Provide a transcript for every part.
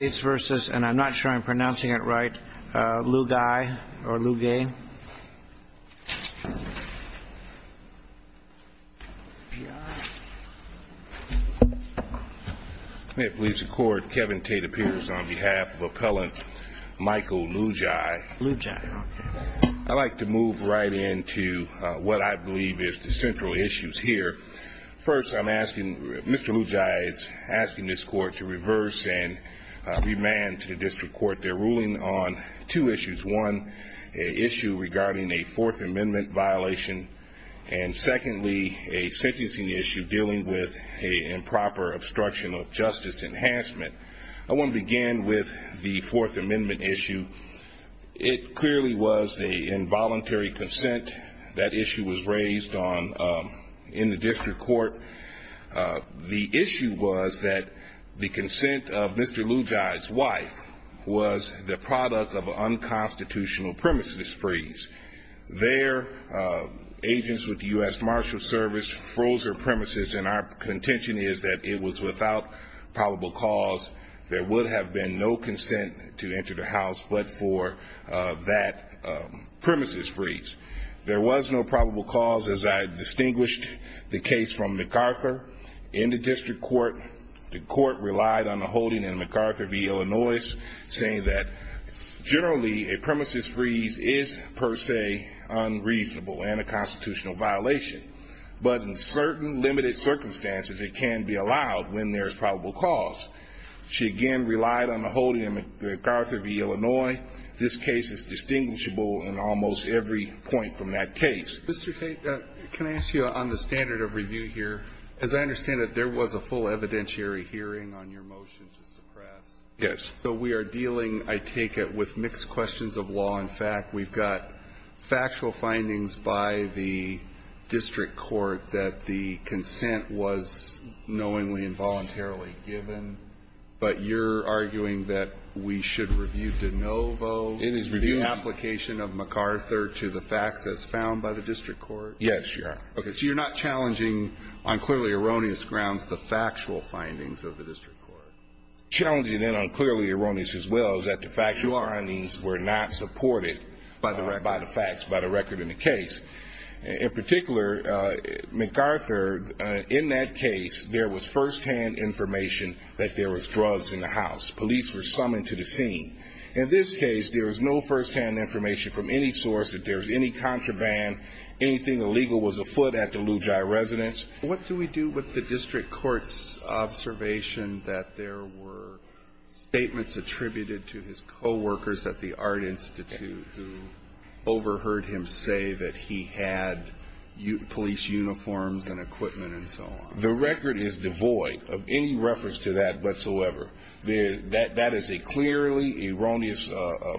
and I'm not sure I'm pronouncing it right, Lugiai or Lugay. May it please the court, Kevin Tate appears on behalf of appellant Michael Lugiai. Lugiai, okay. I'd like to move right into what I believe is the central issues here. First, I'm asking, Mr. Lugiai is asking this court to reverse and remand to the district court their ruling on two issues. One, an issue regarding a Fourth Amendment violation, and secondly, a sentencing issue dealing with improper obstruction of justice enhancement. I want to begin with the Fourth Amendment issue. It clearly was an involuntary consent. That issue was raised in the district court. The issue was that the consent of Mr. Lugiai's wife was the product of an unconstitutional premises freeze. Their agents with the U.S. Marshals Service froze their premises, and our contention is that it was without probable cause. There would have been no consent to enter the house but for that premises freeze. There was no probable cause as I distinguished the case from MacArthur in the district court. The court relied on a holding in MacArthur v. Illinois saying that generally a premises freeze is per se unreasonable and a constitutional violation. But in certain limited circumstances, it can be allowed when there is probable cause. She, again, relied on a holding in MacArthur v. Illinois. This case is distinguishable in almost every point from that case. Mr. Tate, can I ask you on the standard of review here, as I understand it, there was a full evidentiary hearing on your motion to suppress. Yes. So we are dealing, I take it, with mixed questions of law and fact. We've got factual findings by the district court that the consent was knowingly and voluntarily given. But you're arguing that we should review de novo the application of MacArthur to the facts as found by the district court? Yes, Your Honor. Okay. So you're not challenging on clearly erroneous grounds the factual findings of the district court? Challenging and unclearly erroneous as well is that the factual findings were not supported by the facts, by the record in the case. In particular, MacArthur, in that case, there was firsthand information that there was drugs in the house. Police were summoned to the scene. In this case, there was no firsthand information from any source that there was any contraband, anything illegal was afoot at the Lou Jai residence. What do we do with the district court's observation that there were statements attributed to his coworkers at the Art Institute who overheard him say that he had police uniforms and equipment and so on? The record is devoid of any reference to that whatsoever. That is a clearly erroneous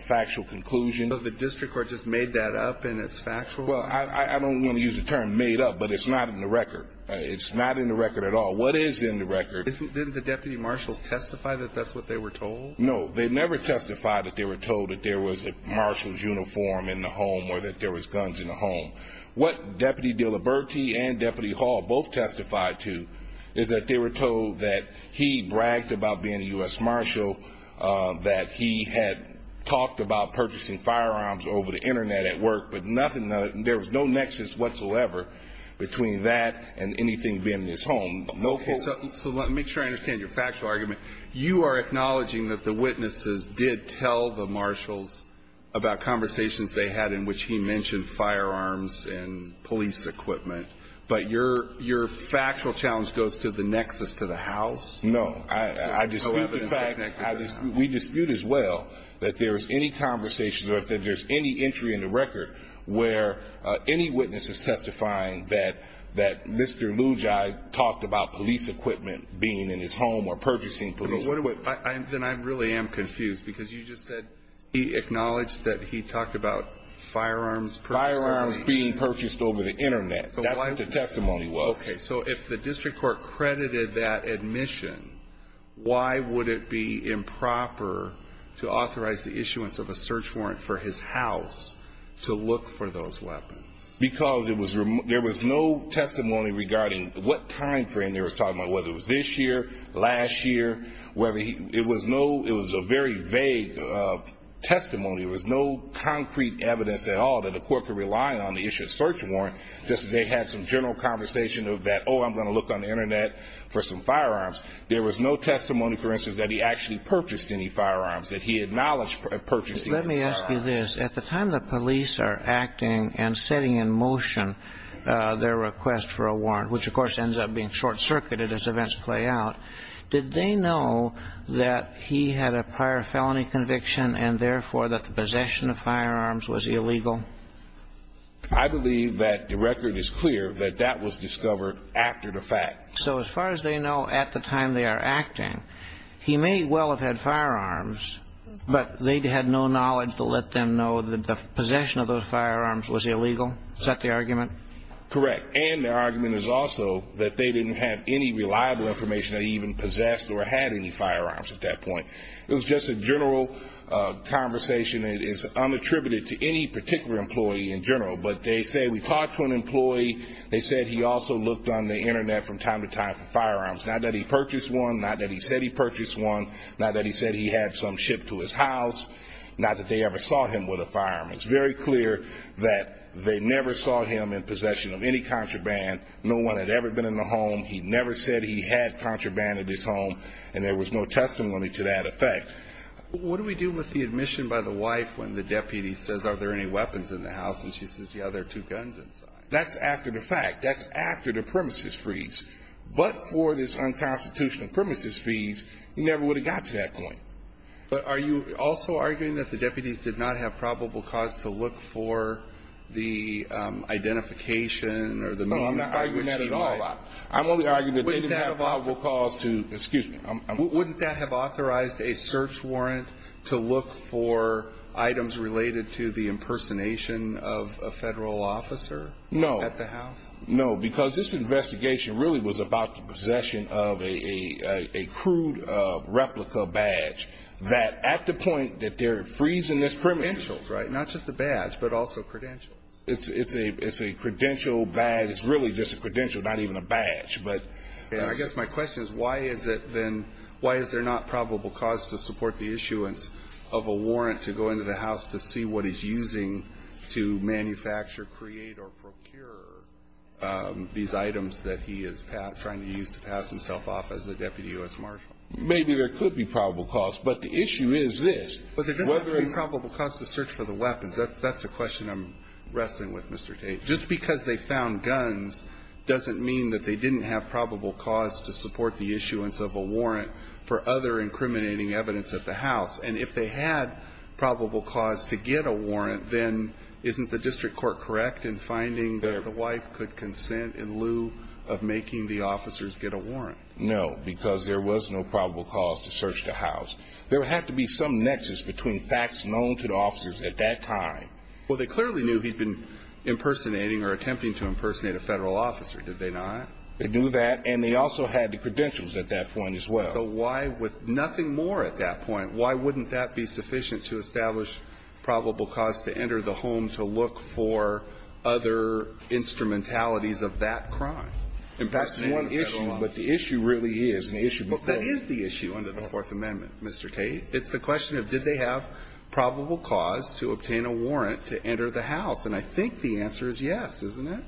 factual conclusion. So the district court just made that up and it's factual? Well, I don't want to use the term made up, but it's not in the record. It's not in the record at all. What is in the record? Didn't the deputy marshals testify that that's what they were told? No, they never testified that they were told that there was a marshal's uniform in the home or that there was guns in the home. What Deputy Diliberti and Deputy Hall both testified to is that they were told that he bragged about being a U.S. marshal, that he had talked about purchasing firearms over the Internet at work, but there was no nexus whatsoever between that and anything being in his home. Okay. So let me try to understand your factual argument. You are acknowledging that the witnesses did tell the marshals about conversations they had in which he mentioned firearms and police equipment, but your factual challenge goes to the nexus to the house? No. I dispute the fact. We dispute as well that there was any conversations or that there's any entry in the record where any witness is testifying that Mr. Lugi talked about police equipment being in his home or purchasing police equipment. Then I really am confused because you just said he acknowledged that he talked about firearms. Firearms being purchased over the Internet. That's what the testimony was. Okay. So if the district court credited that admission, why would it be improper to authorize the issuance of a search warrant for his house to look for those weapons? Because there was no testimony regarding what timeframe they were talking about, whether it was this year, last year. It was a very vague testimony. There was no concrete evidence at all that the court could rely on the issue of search warrant. They had some general conversation of that, oh, I'm going to look on the Internet for some firearms. There was no testimony, for instance, that he actually purchased any firearms, that he acknowledged purchasing firearms. Let me ask you this. At the time the police are acting and setting in motion their request for a warrant, which, of course, ends up being short-circuited as events play out, did they know that he had a prior felony conviction and, therefore, that the possession of firearms was illegal? I believe that the record is clear that that was discovered after the fact. So as far as they know at the time they are acting, he may well have had firearms, but they had no knowledge to let them know that the possession of those firearms was illegal? Is that the argument? Correct. And their argument is also that they didn't have any reliable information that he even possessed or had any firearms at that point. It was just a general conversation. It is unattributed to any particular employee in general, but they say we talked to an employee. They said he also looked on the Internet from time to time for firearms, not that he purchased one, not that he said he purchased one, not that he said he had some shipped to his house, not that they ever saw him with a firearm. It's very clear that they never saw him in possession of any contraband. No one had ever been in the home. He never said he had contraband at his home, and there was no testimony to that effect. What do we do with the admission by the wife when the deputy says, are there any weapons in the house? And she says, yeah, there are two guns inside. That's after the fact. That's after the premises freeze. But for this unconstitutional premises freeze, he never would have got to that point. But are you also arguing that the deputies did not have probable cause to look for the identification or the means by which she might? No, I'm not arguing that at all. I'm only arguing that they didn't have probable cause to, excuse me. Wouldn't that have authorized a search warrant to look for items related to the impersonation of a Federal officer at the house? No. No, because this investigation really was about the possession of a crude replica badge that at the point that they're freezing this premises. Credentials, right? Not just a badge, but also credentials. It's a credential badge. It's really just a credential, not even a badge. I guess my question is, why is it then, why is there not probable cause to support the issuance of a warrant to go into the house to see what he's using to manufacture, create, or procure these items that he is trying to use to pass himself off as a deputy U.S. Marshal? Maybe there could be probable cause, but the issue is this. But there doesn't have to be probable cause to search for the weapons. That's the question I'm wrestling with, Mr. Tate. Just because they found guns doesn't mean that they didn't have probable cause to support the issuance of a warrant for other incriminating evidence at the house. And if they had probable cause to get a warrant, then isn't the district court correct in finding that the wife could consent in lieu of making the officers get a warrant? No, because there was no probable cause to search the house. There would have to be some nexus between facts known to the officers at that time. Well, they clearly knew he'd been impersonating or attempting to impersonate a Federal officer, did they not? They knew that, and they also had the credentials at that point as well. So why, with nothing more at that point, why wouldn't that be sufficient to establish probable cause to enter the home to look for other instrumentalities of that crime? In fact, it's one issue. But the issue really is an issue before. But that is the issue under the Fourth Amendment, Mr. Tate. It's the question of did they have probable cause to obtain a warrant to enter the house. And I think the answer is yes, isn't it?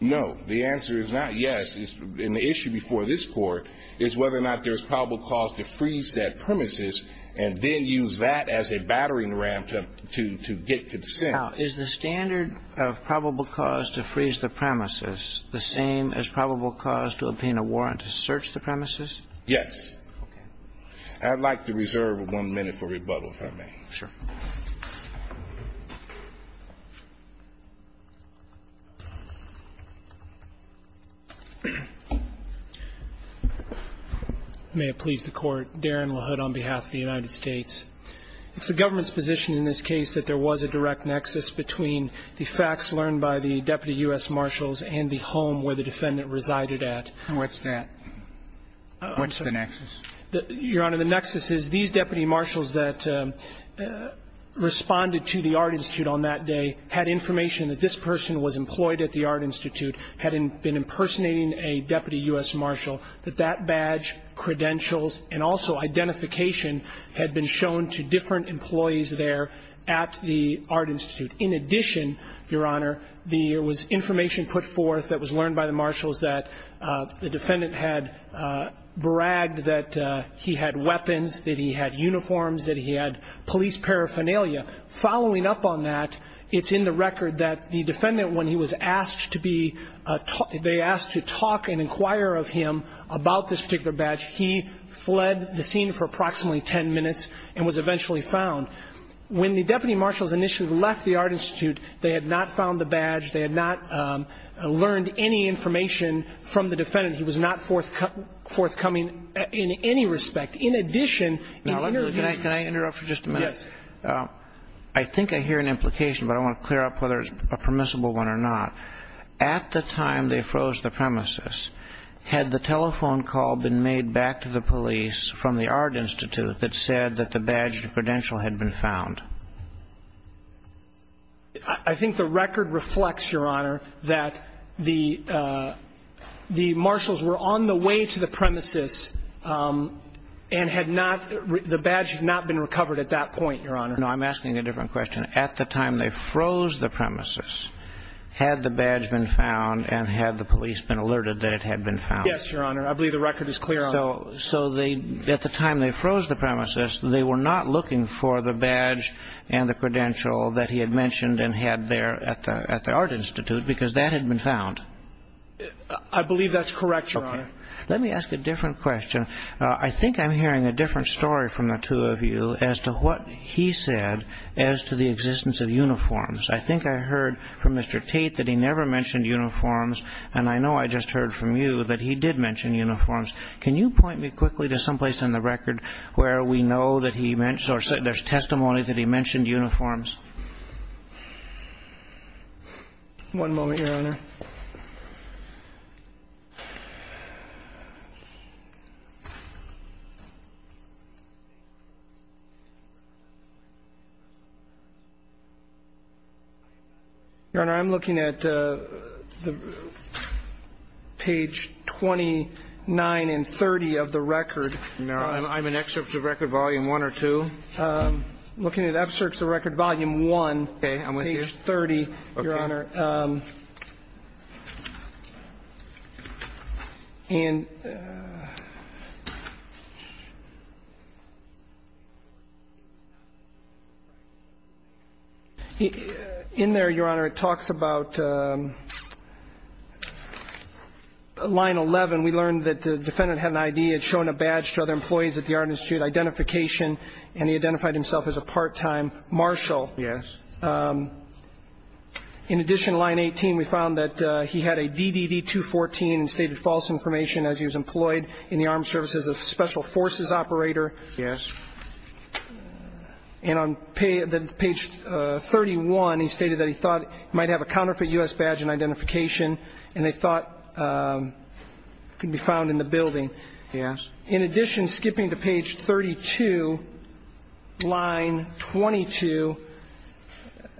No. The answer is not yes. And the issue before this Court is whether or not there's probable cause to freeze that premises and then use that as a battering ram to get consent. Now, is the standard of probable cause to freeze the premises the same as probable cause to obtain a warrant to search the premises? Yes. I'd like to reserve one minute for rebuttal, if I may. Sure. May it please the Court. Darren LaHood on behalf of the United States. It's the government's position in this case that there was a direct nexus between the facts learned by the Deputy U.S. Marshals and the home where the defendant resided at. And what's that? I'm sorry. What's the nexus? Your Honor, the nexus is these Deputy Marshals that responded to the Art Institute on that day had information that this person was employed at the Art Institute, had been impersonating a Deputy U.S. Marshal, that that badge, credentials, and also identification had been shown to different employees there at the Art Institute. In addition, Your Honor, there was information put forth that was learned by the Deputy U.S. Marshals that he had weapons, that he had uniforms, that he had police paraphernalia. Following up on that, it's in the record that the defendant, when he was asked to talk and inquire of him about this particular badge, he fled the scene for approximately ten minutes and was eventually found. When the Deputy Marshals initially left the Art Institute, they had not found the badge. They had not learned any information from the defendant. Again, he was not forthcoming in any respect. In addition, he interviewed him. Can I interrupt for just a minute? Yes. I think I hear an implication, but I want to clear up whether it's a permissible one or not. At the time they froze the premises, had the telephone call been made back to the police from the Art Institute that said that the badge and credential had been found? I think the record reflects, Your Honor, that the Marshals were on the way to the premises and had not the badge not been recovered at that point, Your Honor. No, I'm asking a different question. At the time they froze the premises, had the badge been found and had the police been alerted that it had been found? Yes, Your Honor. I believe the record is clear on that. So at the time they froze the premises, they were not looking for the badge and the credential that he had mentioned and had there at the Art Institute because that had been found? I believe that's correct, Your Honor. Okay. Let me ask a different question. I think I'm hearing a different story from the two of you as to what he said as to the existence of uniforms. I think I heard from Mr. Tate that he never mentioned uniforms, and I know I just heard from you that he did mention uniforms. Can you point me quickly to someplace on the record where we know that he mentioned or there's testimony that he mentioned uniforms? Your Honor, I'm looking at page 29 and 30 of the record. No, I'm in excerpts of record volume 1 or 2. I'm looking at excerpts of record volume 1, page 30, Your Honor. And in there, Your Honor, it talks about line 11. We learned that the defendant had an ID, had shown a badge to other employees at the Art Institute, identification, and he identified himself as a part-time marshal. Yes. In addition to line 18, we found that he had a DDD-214 and stated false information as he was employed in the armed services as a special forces operator. Yes. And on page 31, he stated that he thought he might have a counterfeit U.S. badge and identification, and they thought it could be found in the building. Yes. In addition, skipping to page 32, line 22, it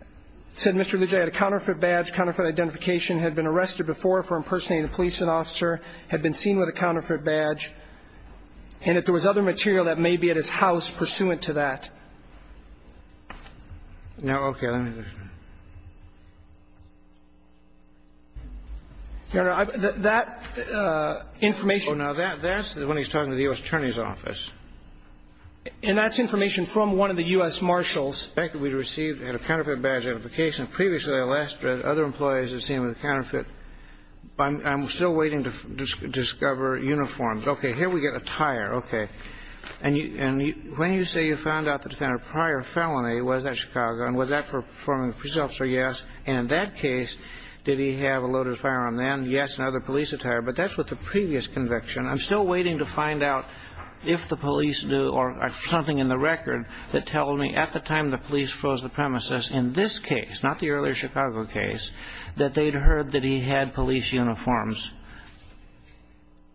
said Mr. Lujan had a counterfeit badge, counterfeit identification, had been arrested before for impersonating a police officer, had been seen with a counterfeit badge, and that there was other material that may be at his house pursuant to that. Now, okay, let me look at that. Your Honor, that information ---- Oh, now, that's when he's talking to the U.S. Attorney's Office. And that's information from one of the U.S. marshals. Back that we received, had a counterfeit badge, identification, previously arrested, other employees have seen him with a counterfeit. I'm still waiting to discover uniforms. Okay. Here we get attire. Okay. And when you say you found out the defendant prior felony was at Chicago, and was that for performing a police officer, yes. And in that case, did he have a loaded firearm then? Yes. And other police attire. But that's with the previous conviction. I'm still waiting to find out if the police knew, or something in the record, that tells me at the time the police froze the premises in this case, not the earlier Chicago case, that they'd heard that he had police uniforms.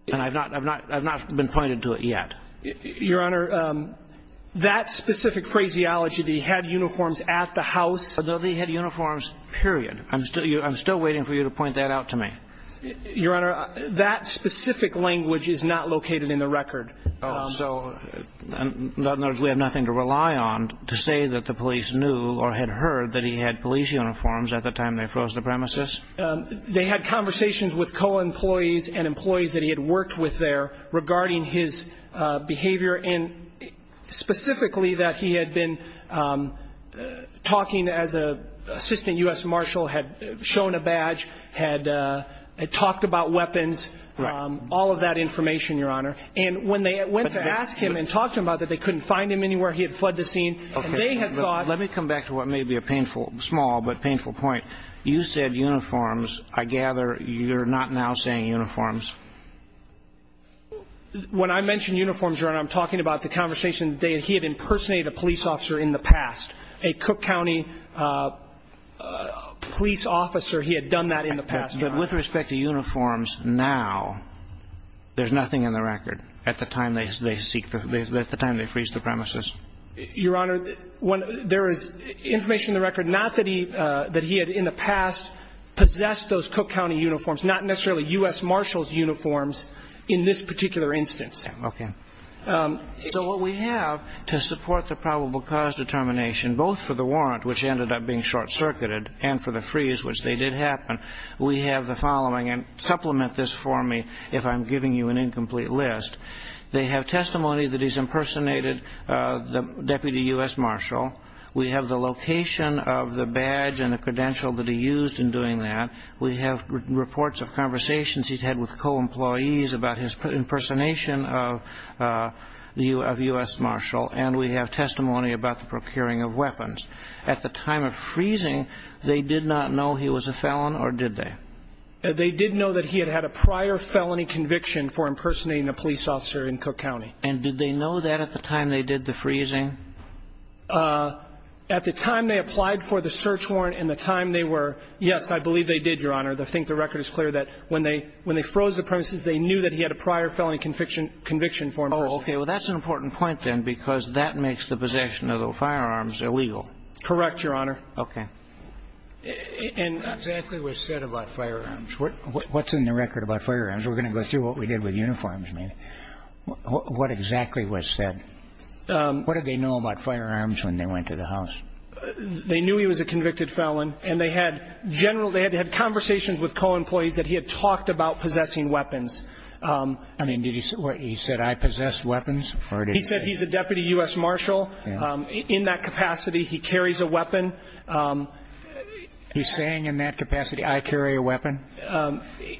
And I've not been pointed to it yet. Your Honor, that specific phraseology, that he had uniforms at the house. Although he had uniforms, period. I'm still waiting for you to point that out to me. Your Honor, that specific language is not located in the record. So, in other words, we have nothing to rely on to say that the police knew or had heard that he had police uniforms at the time they froze the premises? They had conversations with co-employees and employees that he had worked with there regarding his behavior, and specifically that he had been talking as an assistant U.S. marshal, had shown a badge, had talked about weapons, all of that information, Your Honor. And when they went to ask him and talked to him about that, they couldn't find him anywhere. He had fled the scene. Let me come back to what may be a small but painful point. You said uniforms. I gather you're not now saying uniforms. When I mention uniforms, Your Honor, I'm talking about the conversation that he had impersonated a police officer in the past, a Cook County police officer. He had done that in the past. But with respect to uniforms now, there's nothing in the record at the time they seek the ñ at the time they freeze the premises? Your Honor, there is information in the record, not that he had in the past possessed those Cook County uniforms, not necessarily U.S. marshals' uniforms in this particular instance. Okay. So what we have to support the probable cause determination, both for the warrant, which ended up being short-circuited, and for the freeze, which they did happen, we have the following, and supplement this for me if I'm giving you an incomplete list. They have testimony that he's impersonated the deputy U.S. marshal. We have the location of the badge and the credential that he used in doing that. We have reports of conversations he's had with co-employees about his impersonation of U.S. marshal. And we have testimony about the procuring of weapons. At the time of freezing, they did not know he was a felon, or did they? They did know that he had had a prior felony conviction for impersonating a police officer in Cook County. And did they know that at the time they did the freezing? At the time they applied for the search warrant and the time they were ñ Yes, I believe they did, Your Honor. I think the record is clear that when they froze the premises, they knew that he had a prior felony conviction for impersonating. Oh, okay. Well, that's an important point, then, because that makes the possession of the firearms illegal. Correct, Your Honor. Okay. And ñ What exactly was said about firearms? What's in the record about firearms? We're going to go through what we did with uniforms, maybe. What exactly was said? What did they know about firearms when they went to the house? They knew he was a convicted felon, and they had general ñ they had conversations with co-employees that he had talked about possessing weapons. I mean, did he say ñ he said, I possess weapons, or did he say ñ He said he's a deputy U.S. marshal. In that capacity, he carries a weapon. He's saying in that capacity, I carry a weapon?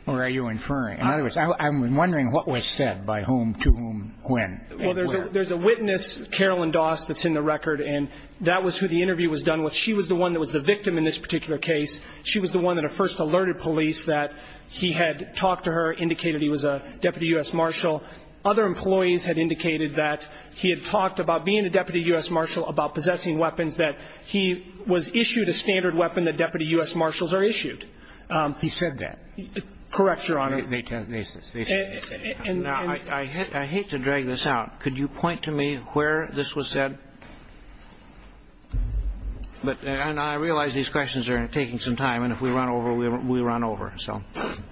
Or are you inferring? In other words, I'm wondering what was said by whom, to whom, when. Well, there's a witness, Carolyn Doss, that's in the record, and that was who the interview was done with. She was the one that was the victim in this particular case. She was the one that first alerted police that he had talked to her, indicated he was a deputy U.S. marshal. Other employees had indicated that he had talked about being a deputy U.S. marshal, about possessing weapons, that he was issued a standard weapon that deputy U.S. marshals are issued. He said that. Correct, Your Honor. They said that. Now, I hate to drag this out. Could you point to me where this was said? And I realize these questions are taking some time, and if we run over, we run over. Thank you.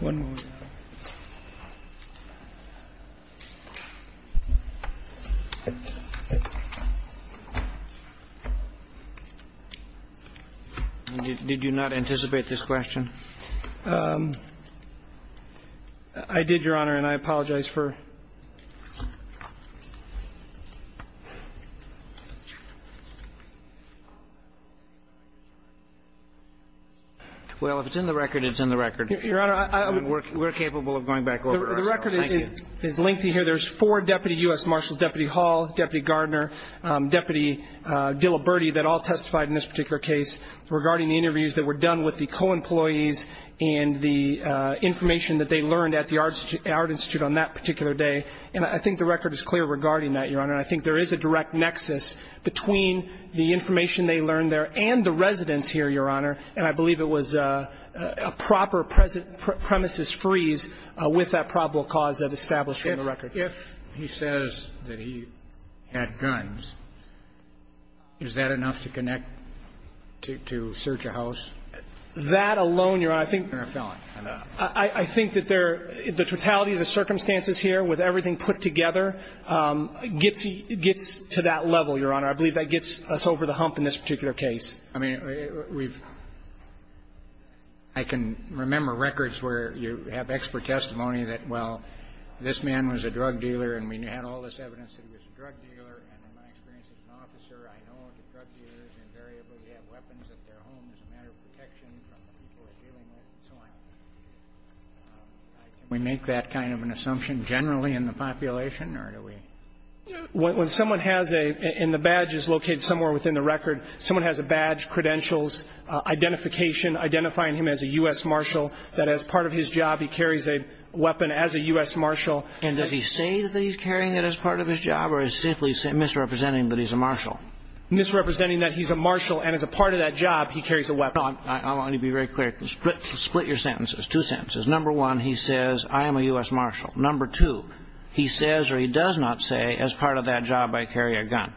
One moment. Did you not anticipate this question? I did, Your Honor, and I apologize for... Well, if it's in the record, it's in the record. We're capable of going back over it ourselves. Thank you. The record is lengthy here. There's four deputy U.S. marshals, Deputy Hall, Deputy Gardner, Deputy Diliberti, that all testified in this particular case regarding the interviews that were done with the co-employees and the information that they learned at the Art Institute on that particular day, and I think the record is clear regarding that, Your Honor. I think there is a direct nexus between the information they learned there and the residents here, Your Honor, and I believe it was a proper premises freeze with that probable cause that established in the record. If he says that he had guns, is that enough to connect to search a house? That alone, Your Honor, I think that the totality of the circumstances here, with everything put together, gets to that level, Your Honor. I believe that gets us over the hump in this particular case. I mean, we've – I can remember records where you have expert testimony that, well, this man was a drug dealer and we had all this evidence that he was a drug dealer, and in my experience as an officer, I know that drug dealers invariably have weapons at their homes as a matter of protection from the people they're dealing with, and so on. Can we make that kind of an assumption generally in the population, or do we? When someone has a – and the badge is located somewhere within the record – someone has a badge, credentials, identification, identifying him as a U.S. marshal, that as part of his job he carries a weapon as a U.S. marshal. And does he say that he's carrying it as part of his job or is he simply misrepresenting that he's a marshal? Misrepresenting that he's a marshal and as a part of that job he carries a weapon. I want you to be very clear. Split your sentences, two sentences. Number one, he says, I am a U.S. marshal. Number two, he says or he does not say, as part of that job I carry a gun.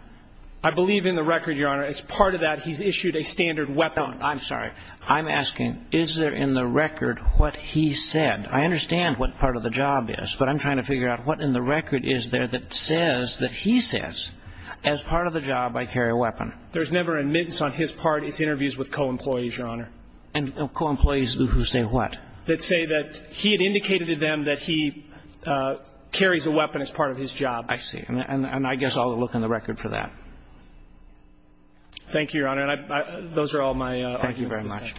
I believe in the record, Your Honor, as part of that he's issued a standard weapon. I'm sorry. I'm asking, is there in the record what he said? I understand what part of the job is, but I'm trying to figure out what in the record is there that says that he says, as part of the job I carry a weapon. There's never an admittance on his part. It's interviews with co-employees, Your Honor. And co-employees who say what? That say that he had indicated to them that he carries a weapon as part of his job. I see. And I guess I'll look in the record for that. Thank you, Your Honor. And those are all my arguments. Thank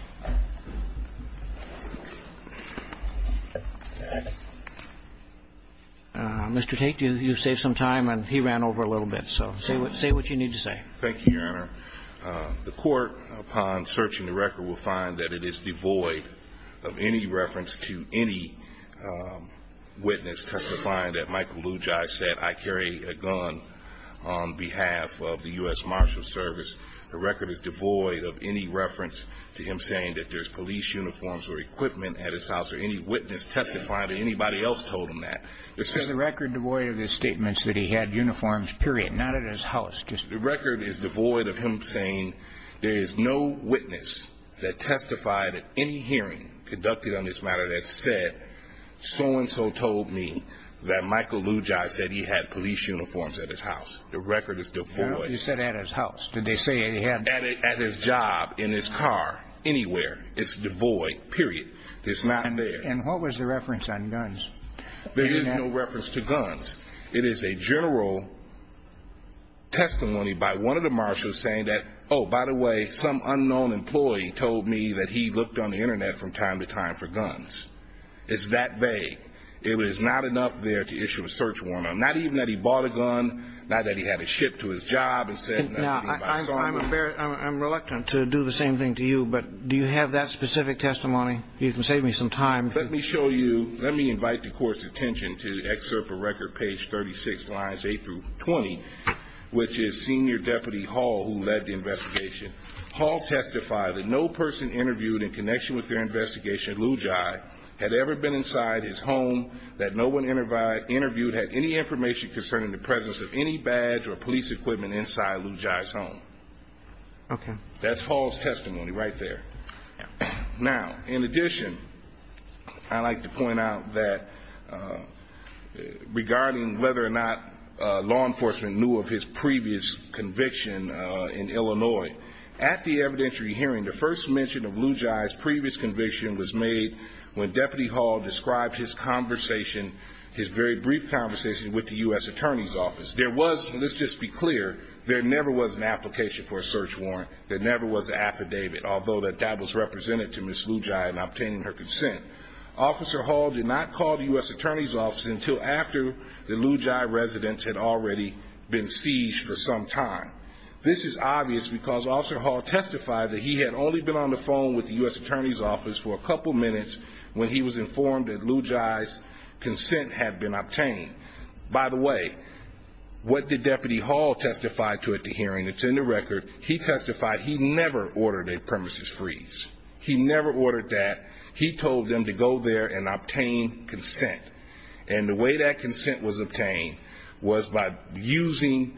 you very much. Mr. Tate, you saved some time and he ran over a little bit. So say what you need to say. Thank you, Your Honor. The court, upon searching the record, will find that it is devoid of any reference to any witness testifying that Michael Lugi said, I carry a gun on behalf of the U.S. Marshals Service. The record is devoid of any reference to him saying that there's police uniforms or equipment at his house or any witness testifying to anybody else told him that. It's for the record devoid of his statements that he had uniforms, period, not at his house. The record is devoid of him saying there is no witness that testified at any hearing conducted on this matter that said so-and-so told me that Michael Lugi said he had police uniforms at his house. The record is devoid. He said at his house. Did they say he had them? At his job, in his car, anywhere. It's devoid, period. It's not there. And what was the reference on guns? There is no reference to guns. It is a general testimony by one of the marshals saying that, oh, by the way, some unknown employee told me that he looked on the Internet from time to time for guns. It's that vague. It was not enough there to issue a search warrant, not even that he bought a gun, not that he had it shipped to his job and said nothing about selling it. I'm reluctant to do the same thing to you, but do you have that specific testimony? You can save me some time. Let me show you, let me invite the Court's attention to the excerpt of record, page 36, lines 8 through 20, which is Senior Deputy Hall who led the investigation. Hall testified that no person interviewed in connection with their investigation, Lugi, had ever been inside his home, that no one interviewed had any information concerning the presence of any badge or police equipment inside Lugi's home. Okay. That's Hall's testimony right there. Now, in addition, I'd like to point out that, regarding whether or not law enforcement knew of his previous conviction in Illinois, at the evidentiary hearing the first mention of Lugi's previous conviction was made when Deputy Hall described his conversation, his very brief conversation with the U.S. Attorney's Office. There was, let's just be clear, there never was an application for a search warrant. There never was an affidavit, although that was represented to Ms. Lugi in obtaining her consent. Officer Hall did not call the U.S. Attorney's Office until after the Lugi residents had already been seized for some time. This is obvious because Officer Hall testified that he had only been on the phone with the U.S. Attorney's Office for a couple minutes when he was informed that Lugi's consent had been obtained. By the way, what did Deputy Hall testify to at the hearing? It's in the record. He testified he never ordered a premises freeze. He never ordered that. He told them to go there and obtain consent. And the way that consent was obtained was by using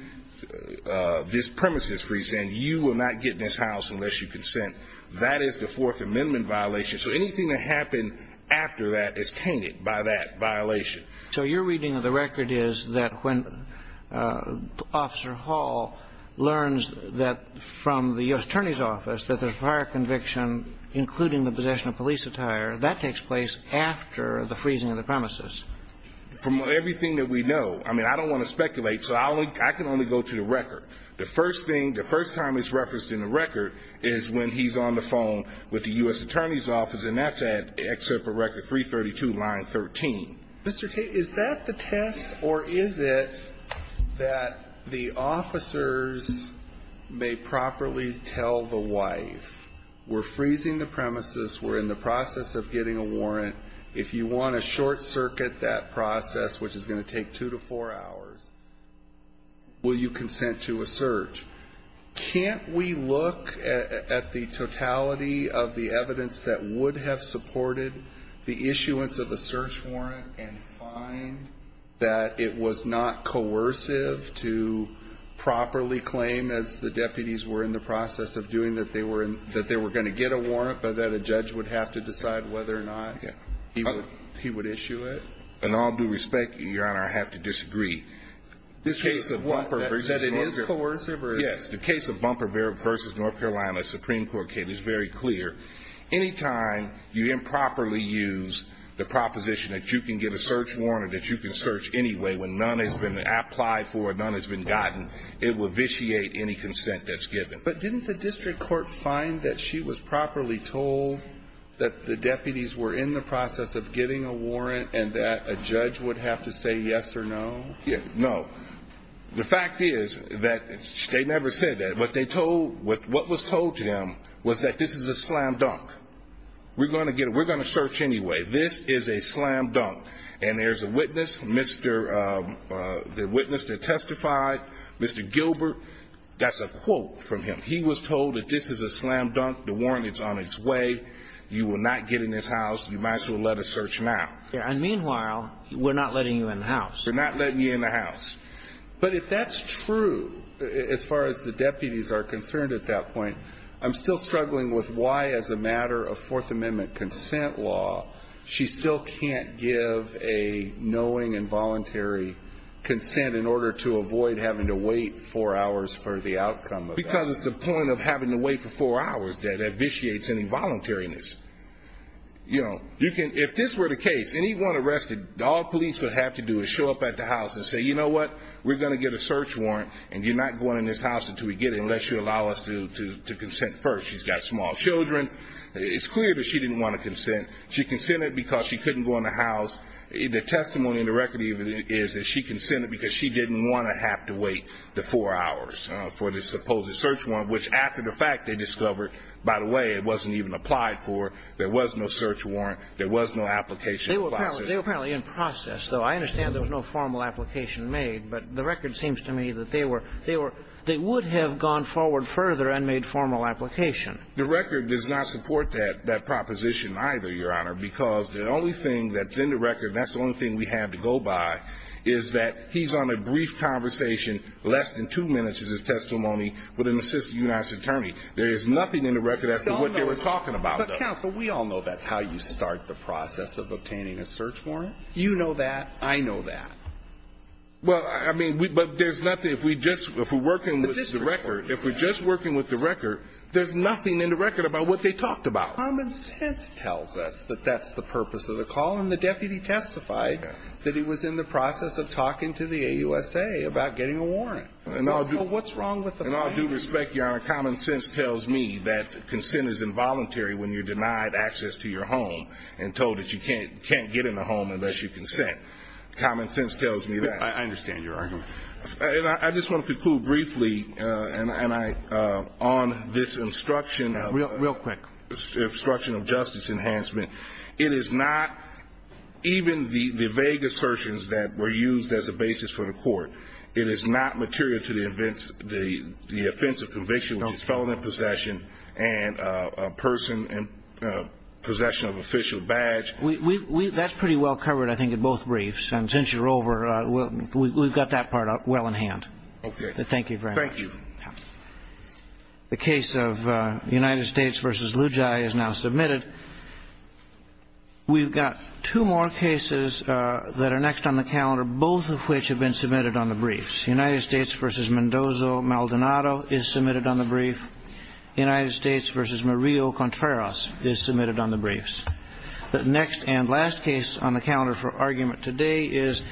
this premises freeze, saying you will not get in this house unless you consent. That is the Fourth Amendment violation. So anything that happened after that is tainted by that violation. So your reading of the record is that when Officer Hall learns that from the U.S. Attorney's Office that there's prior conviction, including the possession of police attire, that takes place after the freezing of the premises? From everything that we know. I mean, I don't want to speculate, so I can only go to the record. The first thing, the first time it's referenced in the record is when he's on the phone with the U.S. Attorney's Office, and that's at Exhibit Record 332, line 13. Mr. Tate, is that the test, or is it that the officers may properly tell the wife, we're freezing the premises, we're in the process of getting a warrant, if you want to short-circuit that process, which is going to take two to four hours, will you consent to a search? Can't we look at the totality of the evidence that would have supported the issuance of a search warrant and find that it was not coercive to properly claim, as the deputies were in the process of doing, that they were going to get a warrant, but that a judge would have to decide whether or not he would issue it? In all due respect, Your Honor, I have to disagree. Is that it is coercive? Yes. The case of Bumper v. North Carolina, Supreme Court case, is very clear. Anytime you improperly use the proposition that you can get a search warrant or that you can search anyway when none has been applied for, none has been gotten, it will vitiate any consent that's given. But didn't the district court find that she was properly told that the deputies were in the process of getting a warrant and that a judge would have to say yes or no? No. The fact is that they never said that. What was told to them was that this is a slam dunk. We're going to get it. We're going to search anyway. This is a slam dunk. And there's a witness, the witness that testified, Mr. Gilbert. That's a quote from him. He was told that this is a slam dunk. The warrant is on its way. You will not get in this house. You might as well let us search now. And meanwhile, we're not letting you in the house. We're not letting you in the house. But if that's true, as far as the deputies are concerned at that point, I'm still struggling with why, as a matter of Fourth Amendment consent law, she still can't give a knowing and voluntary consent in order to avoid having to wait four hours for the outcome of that. Because it's the point of having to wait for four hours that vitiates an involuntariness. You know, if this were the case, anyone arrested, all police would have to do is show up at the house and say, you know what, we're going to get a search warrant and you're not going in this house until we get it unless you allow us to consent first. She's got small children. It's clear that she didn't want to consent. She consented because she couldn't go in the house. The testimony in the record even is that she consented because she didn't want to have to wait the four hours for the supposed search warrant, which after the fact they discovered, by the way, it wasn't even applied for. There was no search warrant. There was no application process. They were apparently in process, though. I understand there was no formal application made. But the record seems to me that they were they would have gone forward further and made formal application. The record does not support that proposition either, Your Honor, because the only thing that's in the record, that's the only thing we have to go by, is that he's on a brief conversation, less than two minutes is his testimony with an assistant U.S. attorney. There is nothing in the record as to what they were talking about. But, counsel, we all know that's how you start the process of obtaining a search warrant. You know that. I know that. Well, I mean, but there's nothing, if we just, if we're working with the record, if we're just working with the record, there's nothing in the record about what they talked about. Common sense tells us that that's the purpose of the call. And the deputy testified that he was in the process of talking to the AUSA about getting a warrant. So what's wrong with the claim? In all due respect, Your Honor, common sense tells me that consent is involuntary when you're denied access to your home and told that you can't get in the home unless you consent. Common sense tells me that. I understand your argument. And I just want to conclude briefly, and I, on this instruction of the Real quick. Instruction of justice enhancement. It is not, even the vague assertions that were used as a basis for the court, it was the offensive conviction, which is felon in possession, and a person in possession of official badge. That's pretty well covered, I think, in both briefs. And since you're over, we've got that part up well in hand. Okay. Thank you very much. Thank you. The case of United States v. Lujai is now submitted. We've got two more cases that are next on the calendar, both of which have been submitted on the briefs. United States v. Mendoza-Maldonado is submitted on the brief. United States v. Murillo-Contreras is submitted on the briefs. The next and last case on the calendar for argument today is